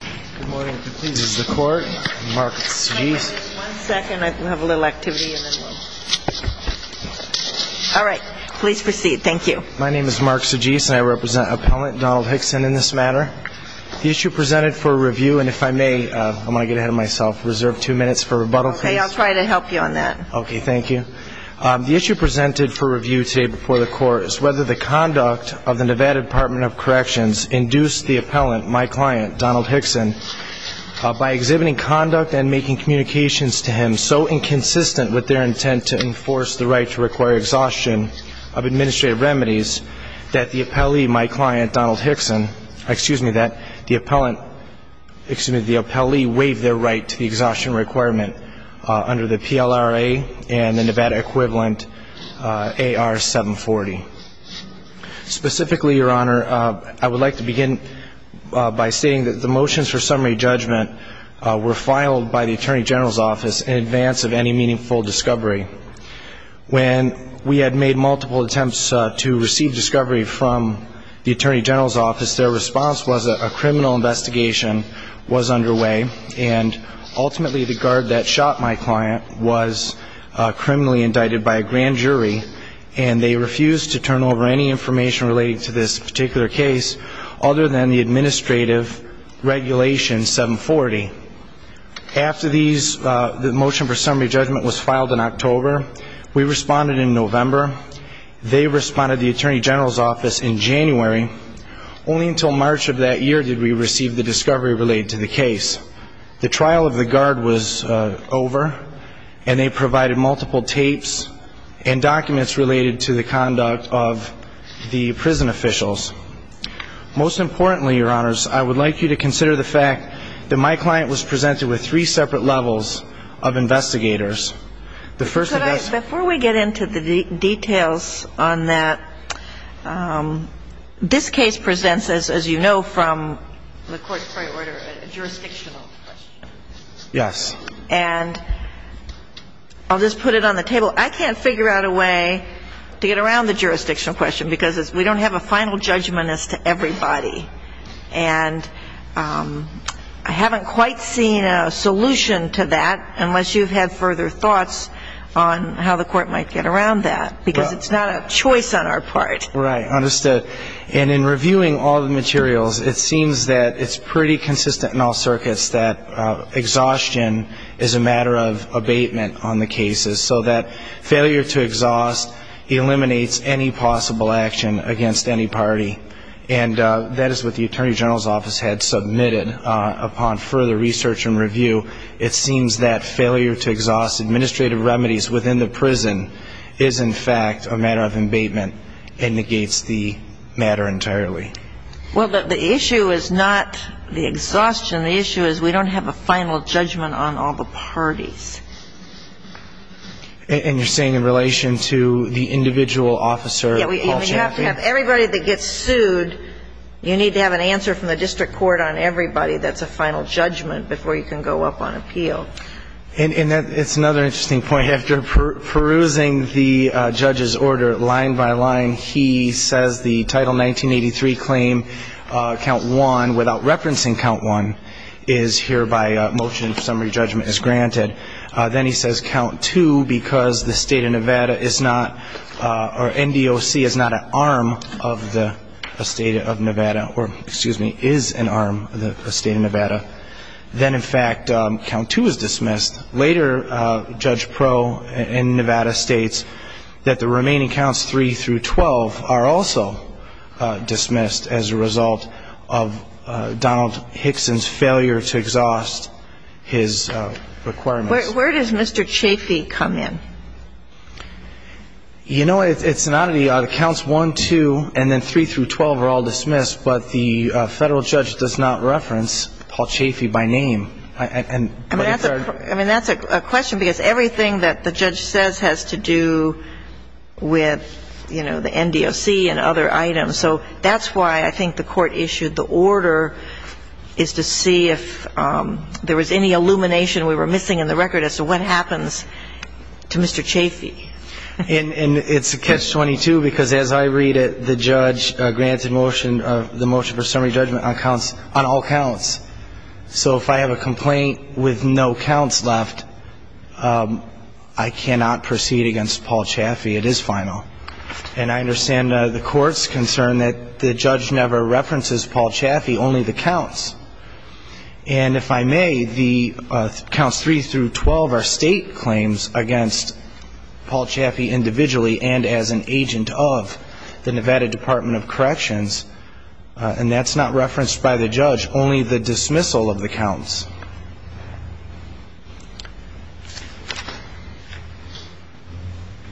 The issue presented for review today before the court is whether the conduct of the Nevada Department of Corrections induced the appellant, my client, Donald Hixon, to file a rebuttal. by exhibiting conduct and making communications to him so inconsistent with their intent to enforce the right to require exhaustion of administrative remedies that the appellee, my client, Donald Hixon, excuse me, that the appellant, excuse me, the appellee waived their right to the exhaustion requirement under the PLRA and the Nevada equivalent AR 740. Specifically, Your Honor, I would like to begin by stating that the motions for summary judgment were filed by the Attorney General's office in advance of any meaningful discovery. When we had made multiple attempts to receive discovery from the Attorney General's office, their response was that a criminal investigation was underway, and ultimately the guard that shot my client was criminally indicted by a grand jury, and they refused to turn over any information relating to this particular case other than the administrative regulation 740. After these, the motion for summary judgment was filed in October. We responded in November. They responded to the Attorney General's office in January. Only until March of that year did we receive the discovery related to the case. The trial of the guard was over, and they provided multiple tapes and documents related to the conduct of the prison officials. Most importantly, Your Honors, I would like you to consider the fact that my client was presented with three separate levels of investigators. The first of those – Before we get into the details on that, this case presents, as you know from the court's prior order, a jurisdictional question. Yes. And I'll just put it on the table. I can't figure out a way to get around the jurisdictional question, because we don't have a final judgment as to everybody. And I haven't quite seen a solution to that unless you've had further thoughts on how the court might get around that, because it's not a choice on our part. Right. Understood. And in reviewing all the materials, it seems that it's pretty consistent in all circuits that exhaustion is a matter of abatement on the cases, so that failure to exhaust eliminates any possible action against any party. And that is what the Attorney General's office had submitted upon further research and review. It seems that failure to exhaust administrative remedies within the prison is, in fact, a matter of abatement and negates the matter entirely. Well, the issue is not the exhaustion. The issue is we don't have a final judgment on all the parties. And you're saying in relation to the individual officer, Paul Champion? Yeah. You have to have everybody that gets sued, you need to have an answer from the district court on everybody that's a final judgment before you can go up on appeal. And that's another interesting point. After perusing the judge's order line by line, he says the Title 1983 claim, Count 1, without referencing Count 1, is here by motion of summary judgment as granted. Then he says Count 2, because the State of Nevada is not, or NDOC is not an arm of the State of Nevada, or excuse me, is an arm of the State of Nevada, then in fact Count 2 is dismissed. Later, Judge Pro in Nevada states that the remaining Counts 3 through 12 are also dismissed as a result of Donald Hickson's failure to exhaust his requirements. Where does Mr. Chaffee come in? You know, it's not the Counts 1, 2, and then 3 through 12 are all dismissed, but the Federal judge does not reference Paul Chaffee by name. I mean, that's a question, because everything that the judge says has to do with, you know, the NDOC and other items. So that's why I think the court issued the order is to see if there was any illumination we were missing in the record as to what happens to Mr. Chaffee. And it's a catch-22, because as I read it, the judge granted motion, the motion for summary judgment on counts, on all counts. So if I have a complaint with no counts left, I cannot proceed against Paul Chaffee. It is final. And I understand the court's concern that the judge never references Paul Chaffee, only the counts. And if I may, the Counts 3 through 12 are State claims against Paul Chaffee individually and as an agent of the Nevada Department of Corrections. And that's not referenced by the judge, only the dismissal of the counts.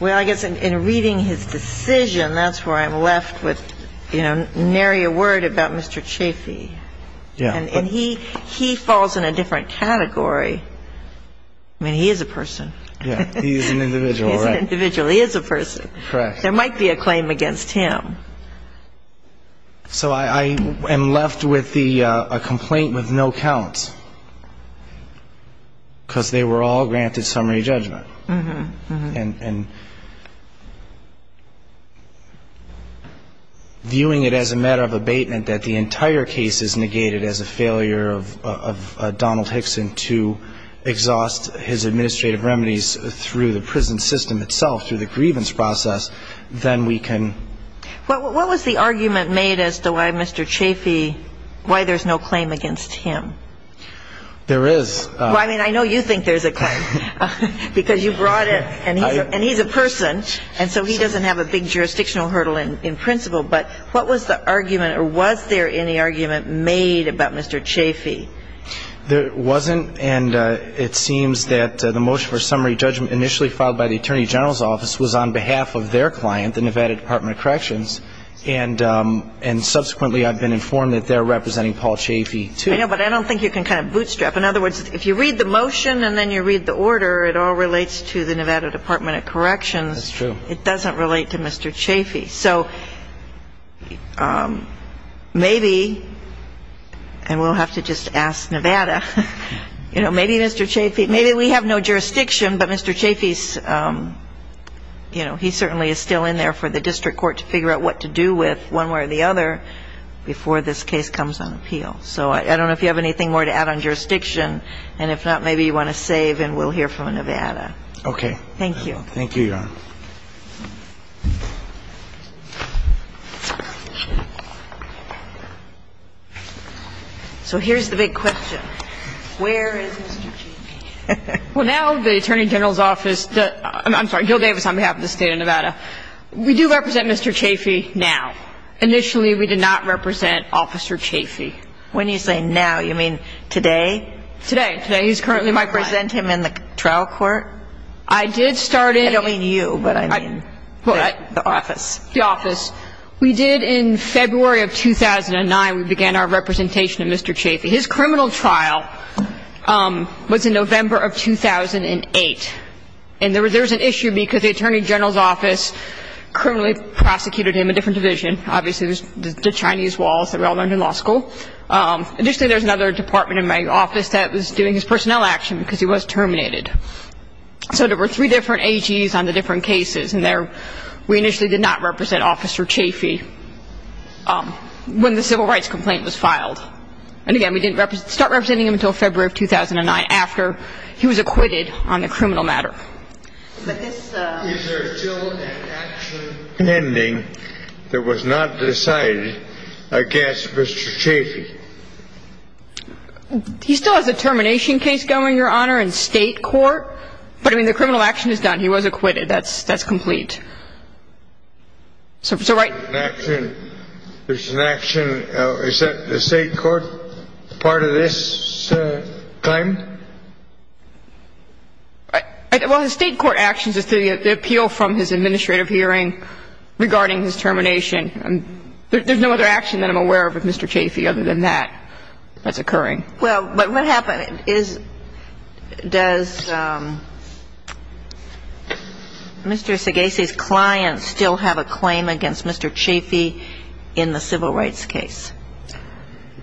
Well, I guess in reading his decision, that's where I'm left with, you know, nary a word about Mr. Chaffee. Yeah. And he falls in a different category. I mean, he is a person. Yeah. He is an individual, right? He is an individual. He is a person. Correct. There might be a claim against him. So I am left with a complaint with no counts, because they were all granted summary judgment. Mm-hmm. And viewing it as a matter of abatement that the entire case is negated as a failure of Donald Hickson to exhaust his administrative remedies through the prison system itself, through the grievance process, then we can ---- What was the argument made as to why Mr. Chaffee, why there's no claim against him? There is. Well, I mean, I know you think there's a claim, because you brought it, and he's a person, and so he doesn't have a big jurisdictional hurdle in principle. But what was the argument, or was there any argument made about Mr. Chaffee? There wasn't, and it seems that the motion for summary judgment initially filed by the Attorney General's office was on behalf of their client, the Nevada Department of Corrections, and subsequently I've been informed that they're representing Paul Chaffee, too. I know, but I don't think you can kind of bootstrap. In other words, if you read the motion and then you read the order, it all relates to the Nevada Department of Corrections. That's true. It doesn't relate to Mr. Chaffee. So maybe, and we'll have to just ask Nevada, you know, maybe Mr. Chaffee, maybe we have no jurisdiction, but Mr. Chaffee's, you know, he certainly is still in there for the district court to figure out what to do with one way or the other before this case comes on appeal. So I don't know if you have anything more to add on jurisdiction. And if not, maybe you want to save and we'll hear from Nevada. Okay. Thank you. Thank you, Your Honor. So here's the big question. Where is Mr. Chaffee? Well, now the Attorney General's Office, I'm sorry, Gil Davis on behalf of the State of Nevada, we do represent Mr. Chaffee now. Initially, we did not represent Officer Chaffee. When you say now, you mean today? Today. Today, he's currently my president. Why? Him in the trial court. I did start in. I don't mean you. But I mean the office. The office. We did in February of 2009, we began our representation of Mr. Chaffee. His criminal trial was in November of 2008. And there was an issue because the Attorney General's Office criminally prosecuted him in a different division. Obviously, it was the Chinese walls that we all learned in law school. Additionally, there was another department in my office that was doing his personnel action because he was terminated. So there were three different AGs on the different cases. And we initially did not represent Officer Chaffee when the civil rights complaint was filed. And, again, we didn't start representing him until February of 2009 after he was acquitted on the criminal matter. Is there still an action pending that was not decided against Mr. Chaffee? He still has a termination case going, Your Honor, in state court. But, I mean, the criminal action is done. He was acquitted. That's complete. There's an action. Is that the state court part of this claim? Well, the state court actions is to appeal from his administrative hearing regarding his termination. There's no other action that I'm aware of with Mr. Chaffee other than that that's occurring. Well, but what happened is, does Mr. Segesi's client still have a claim against Mr. Chaffee in the civil rights case?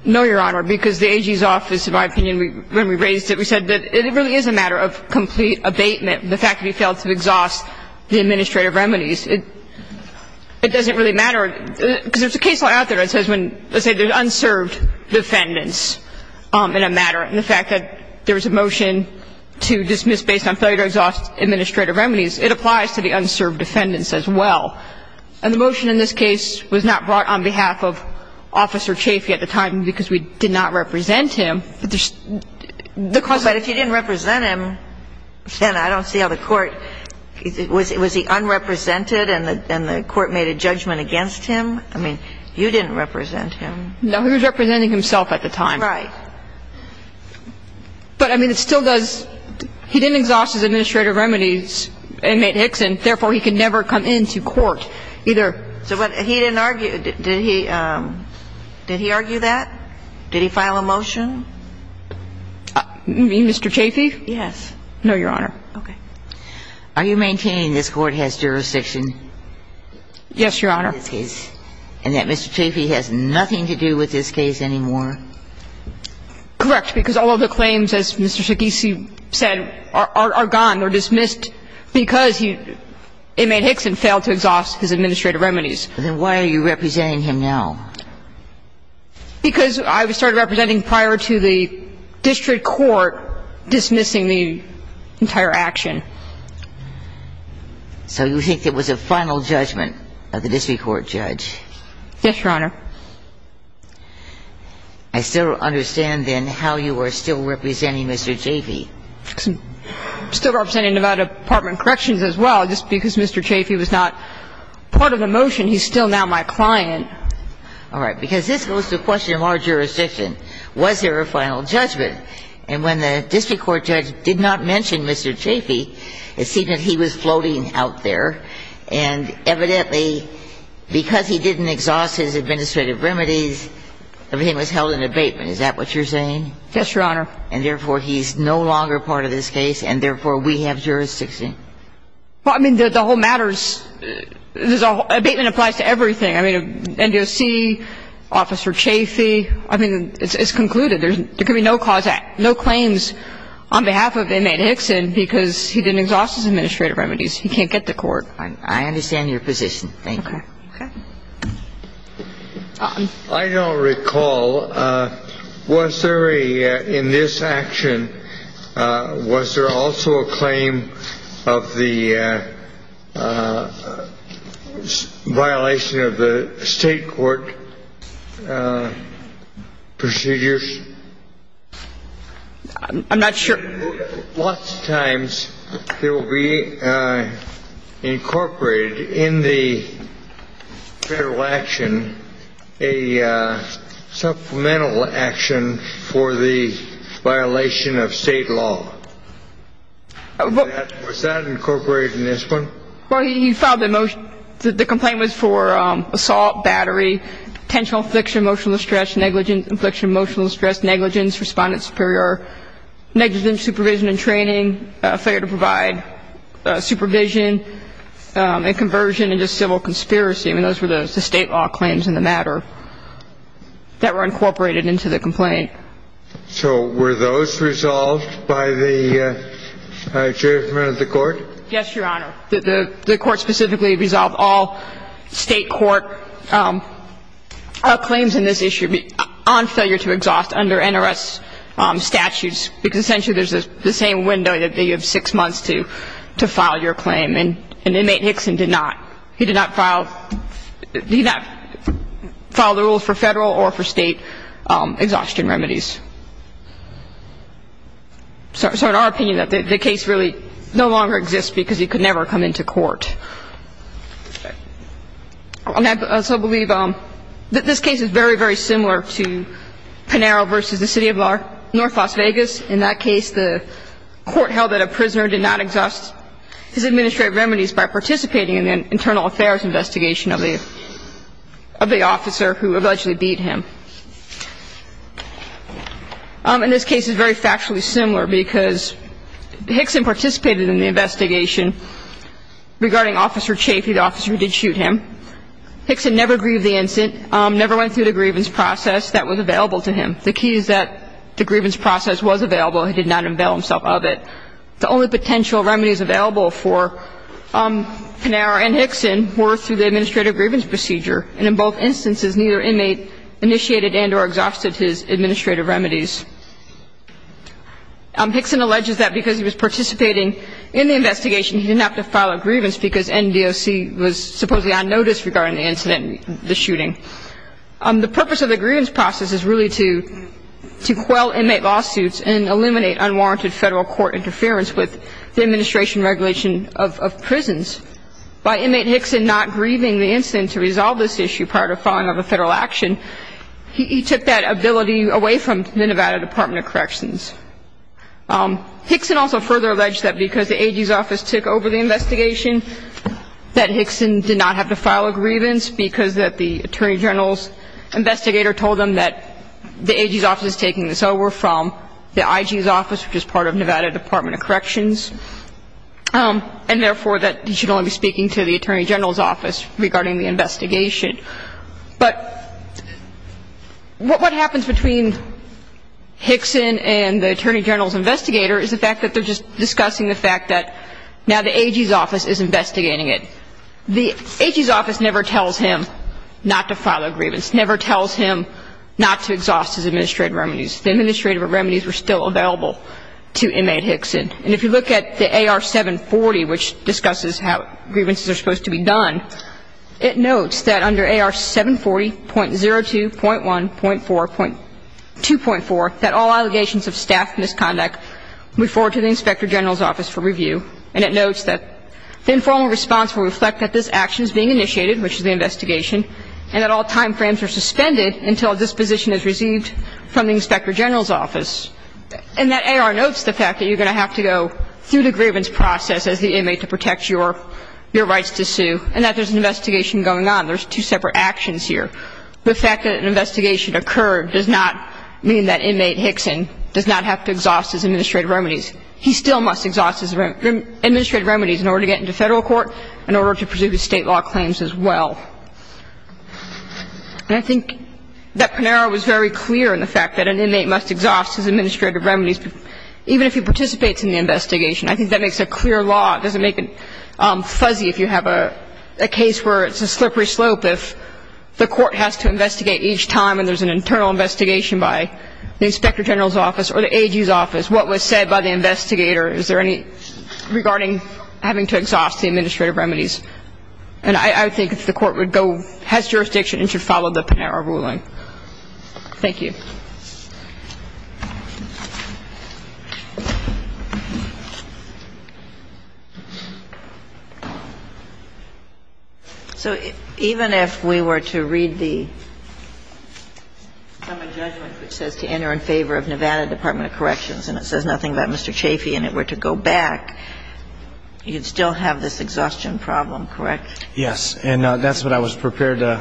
No, Your Honor, because the AG's office, in my opinion, when we raised it, we said that it really is a matter of complete abatement, the fact that he failed to exhaust the administrative remedies. In this case, it doesn't really matter, because there's a case law out there that says when, let's say there's unserved defendants in a matter, and the fact that there was a motion to dismiss based on failure to exhaust administrative remedies, it applies to the unserved defendants as well. And the motion in this case was not brought on behalf of Officer Chaffee at the time because we did not represent him. But if you didn't represent him, then I don't see how the court – was he unrepresented and the court made a judgment against him? I mean, you didn't represent him. No, he was representing himself at the time. Right. But, I mean, it still does – he didn't exhaust his administrative remedies, inmate Hickson, therefore he could never come into court either. So what – he didn't argue – did he – did he argue that? Did he file a motion? You mean Mr. Chaffee? Yes. No, Your Honor. Okay. Are you maintaining this Court has jurisdiction? Yes, Your Honor. In this case? And that Mr. Chaffee has nothing to do with this case anymore? Correct, because all of the claims, as Mr. Sacchese said, are gone or dismissed because he – inmate Hickson failed to exhaust his administrative remedies. Then why are you representing him now? Because I started representing prior to the district court dismissing the entire action. So you think it was a final judgment of the district court judge? Yes, Your Honor. I still don't understand, then, how you are still representing Mr. Chaffee. I'm still representing the Nevada Department of Corrections as well, just because Mr. Chaffee was not part of the motion. He's still now my client. All right. Because this goes to the question of our jurisdiction. Was there a final judgment? And when the district court judge did not mention Mr. Chaffee, it seemed that he was floating out there. And evidently, because he didn't exhaust his administrative remedies, everything was held in abatement. Is that what you're saying? Yes, Your Honor. And therefore, he's no longer part of this case, and therefore, we have jurisdiction. Well, I mean, the whole matter is – abatement applies to everything. I mean, NDOC, Officer Chaffee. I mean, it's concluded. There can be no claims on behalf of inmate Hickson because he didn't exhaust his administrative remedies. He can't get to court. I understand your position. Thank you. Okay. Okay. I don't recall. Was there a – in this action, was there also a claim of the violation of the state court procedures? I'm not sure. Lots of times, there will be incorporated in the federal action a supplemental action for the violation of state law. Was that incorporated in this one? Well, he filed a motion – the complaint was for assault, battery, potential affliction, emotional distress, negligence, affliction, emotional distress, negligence, respondent superior, negligence, supervision and training, failure to provide supervision, and conversion into civil conspiracy. I mean, those were the state law claims in the matter that were incorporated into the complaint. So were those resolved by the judgment of the court? Yes, Your Honor. The court specifically resolved all state court claims in this issue on failure to exhaust under NRS statutes, because essentially there's the same window. You have six months to file your claim. And inmate Hickson did not. He did not file the rules for federal or for state exhaustion remedies. So in our opinion, the case really no longer exists because he could never come into court. And I also believe that this case is very, very similar to Pinero v. The City of North Las Vegas. In that case, the court held that a prisoner did not exhaust his administrative remedies by participating in the internal affairs investigation of the officer who allegedly beat him. And this case is very factually similar because Hickson participated in the investigation. And in both instances, neither inmate initiated and or exhausted his administrative remedies. Hickson alleges that because he was participating in the investigation, he didn't supposedly on notice regarding the incident, the shooting. The purpose of the grievance process is really to quell inmate lawsuits and eliminate unwarranted federal court interference with the administration regulation of prisons. By inmate Hickson not grieving the incident to resolve this issue prior to filing another federal action, he took that ability away from the Nevada Department of Corrections. Hickson also further alleged that because the AG's office took over the investigation that Hickson did not have to file a grievance because that the attorney general's investigator told him that the AG's office is taking this over from the IG's office, which is part of Nevada Department of Corrections. And therefore, that he should only be speaking to the attorney general's office regarding the investigation. But what happens between Hickson and the attorney general's investigator is the fact that they're just discussing the fact that now the AG's office is investigating it. The AG's office never tells him not to file a grievance, never tells him not to exhaust his administrative remedies. The administrative remedies were still available to inmate Hickson. And if you look at the AR 740, which discusses how grievances are supposed to be done, it notes that under AR 740.02.1.4.2.4, that all allegations of staff misconduct move forward to the inspector general's office for review. And it notes that the informal response will reflect that this action is being initiated, which is the investigation, and that all time frames are suspended until a disposition is received from the inspector general's office. And that AR notes the fact that you're going to have to go through the grievance process as the inmate to protect your rights to sue, and that there's an investigation going on. There's two separate actions here. The fact that an investigation occurred does not mean that inmate Hickson does not have to exhaust his administrative remedies. He still must exhaust his administrative remedies in order to get into federal court, in order to pursue his state law claims as well. And I think that Panera was very clear in the fact that an inmate must exhaust his administrative remedies, even if he participates in the investigation. I think that makes a clear law. It doesn't make it fuzzy if you have a case where it's a slippery slope. If the court has to investigate each time and there's an internal investigation by the inspector general's office or the AG's office, what was said by the investigator, is there any regarding having to exhaust the administrative remedies. And I would think that the court would go, has jurisdiction, and should follow the Panera ruling. Thank you. So even if we were to read the judgment which says to enter in favor of Nevada Department of Corrections, and it says nothing about Mr. Chaffee and it were to go back, you'd still have this exhaustion problem, correct? Yes. And that's what I was prepared to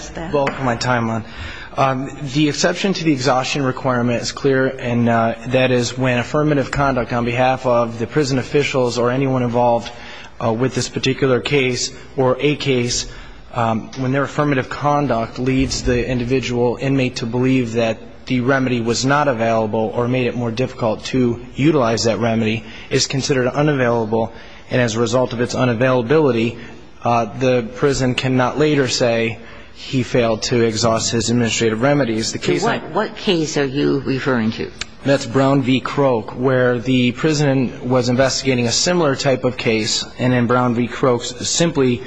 spend both of my time on. Okay. Why don't you address that? The exception to the exhaustion requirement is clear, and that is when affirmative conduct on behalf of the prison officials or anyone involved with this particular case, or a case when their affirmative conduct leads the individual inmate to believe that the remedy was not available or made it more difficult to utilize that remedy, is considered unavailable, and as a result of its unavailability, the prison cannot later say he failed to exhaust his administrative remedies. What case are you referring to? That's Brown v. Croke, where the prison was investigating a similar type of case, and in Brown v. Croke, simply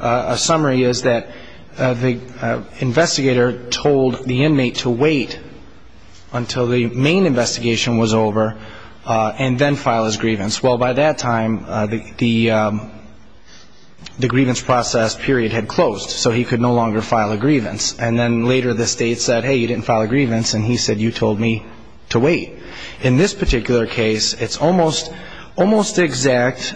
a summary is that the investigator told the inmate to wait until the main investigation was over, and then file his grievance. Well, by that time, the grievance process period had closed, so he could no longer file a grievance. And then later the state said, hey, you didn't file a grievance, and he said you told me to wait. In this particular case, it's almost exact.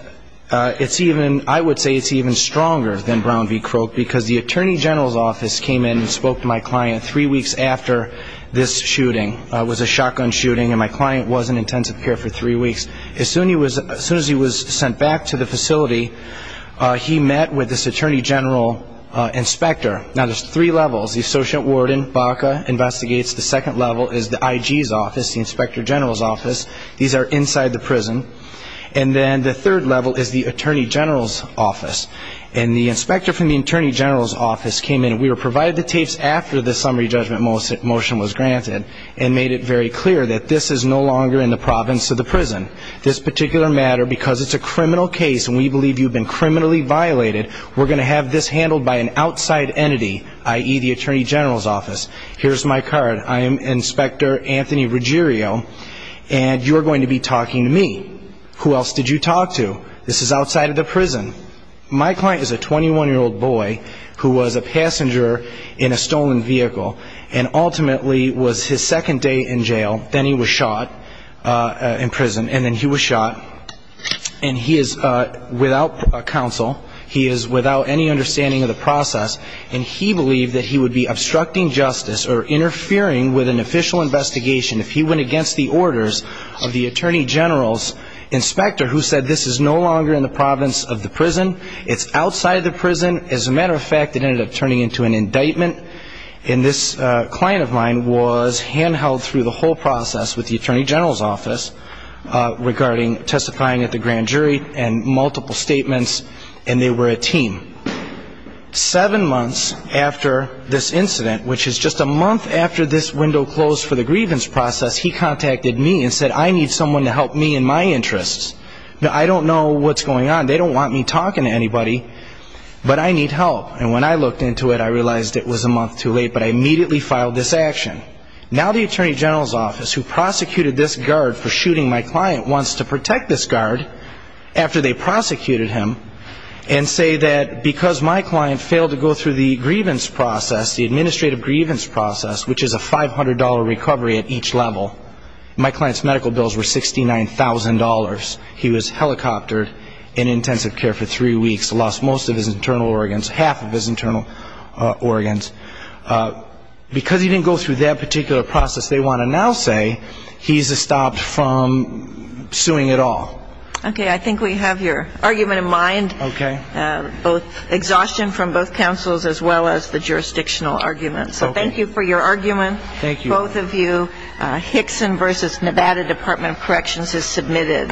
I would say it's even stronger than Brown v. Croke, because the attorney general's office came in and spoke to my client three weeks after this shooting. It was a shotgun shooting, and my client was in intensive care for three weeks. As soon as he was sent back to the facility, he met with this attorney general inspector. Now, there's three levels. The associate warden, Baca, investigates. The second level is the IG's office, the inspector general's office. These are inside the prison. And then the third level is the attorney general's office, and the inspector from the attorney general's office came in. We were provided the tapes after the summary judgment motion was granted and made it very clear that this is no longer in the province of the prison. This particular matter, because it's a criminal case and we believe you've been criminally violated, we're going to have this handled by an outside entity, i.e., the attorney general's office. Here's my card. I am Inspector Anthony Ruggiero, and you're going to be talking to me. Who else did you talk to? This is outside of the prison. My client is a 21-year-old boy who was a passenger in a stolen vehicle and ultimately was his second day in jail. Then he was shot in prison, and then he was shot. And he is without counsel. He is without any understanding of the process. And he believed that he would be obstructing justice or interfering with an official investigation if he went against the orders of the attorney general's inspector who said this is no longer in the province of the prison. It's outside the prison. As a matter of fact, it ended up turning into an indictment. And this client of mine was handheld through the whole process with the attorney general's office regarding testifying at the grand jury and multiple statements, and they were a team. Seven months after this incident, which is just a month after this window closed for the grievance process, he contacted me and said, I need someone to help me in my interests. I don't know what's going on. They don't want me talking to anybody, but I need help. And when I looked into it, I realized it was a month too late, but I immediately filed this action. Now the attorney general's office, who prosecuted this guard for shooting my client once to protect this guard after they prosecuted him and say that because my client failed to go through the grievance process, the administrative grievance process, which is a $500 recovery at each level, my client's medical bills were $69,000. He was helicoptered in intensive care for three weeks, lost most of his internal organs, half of his internal organs. Because he didn't go through that particular process, they want to now say he's stopped from suing at all. Okay. I think we have your argument in mind. Okay. Both exhaustion from both counsels as well as the jurisdictional argument. So thank you for your argument. Thank you. Thank both of you. Hickson v. Nevada Department of Corrections is submitted.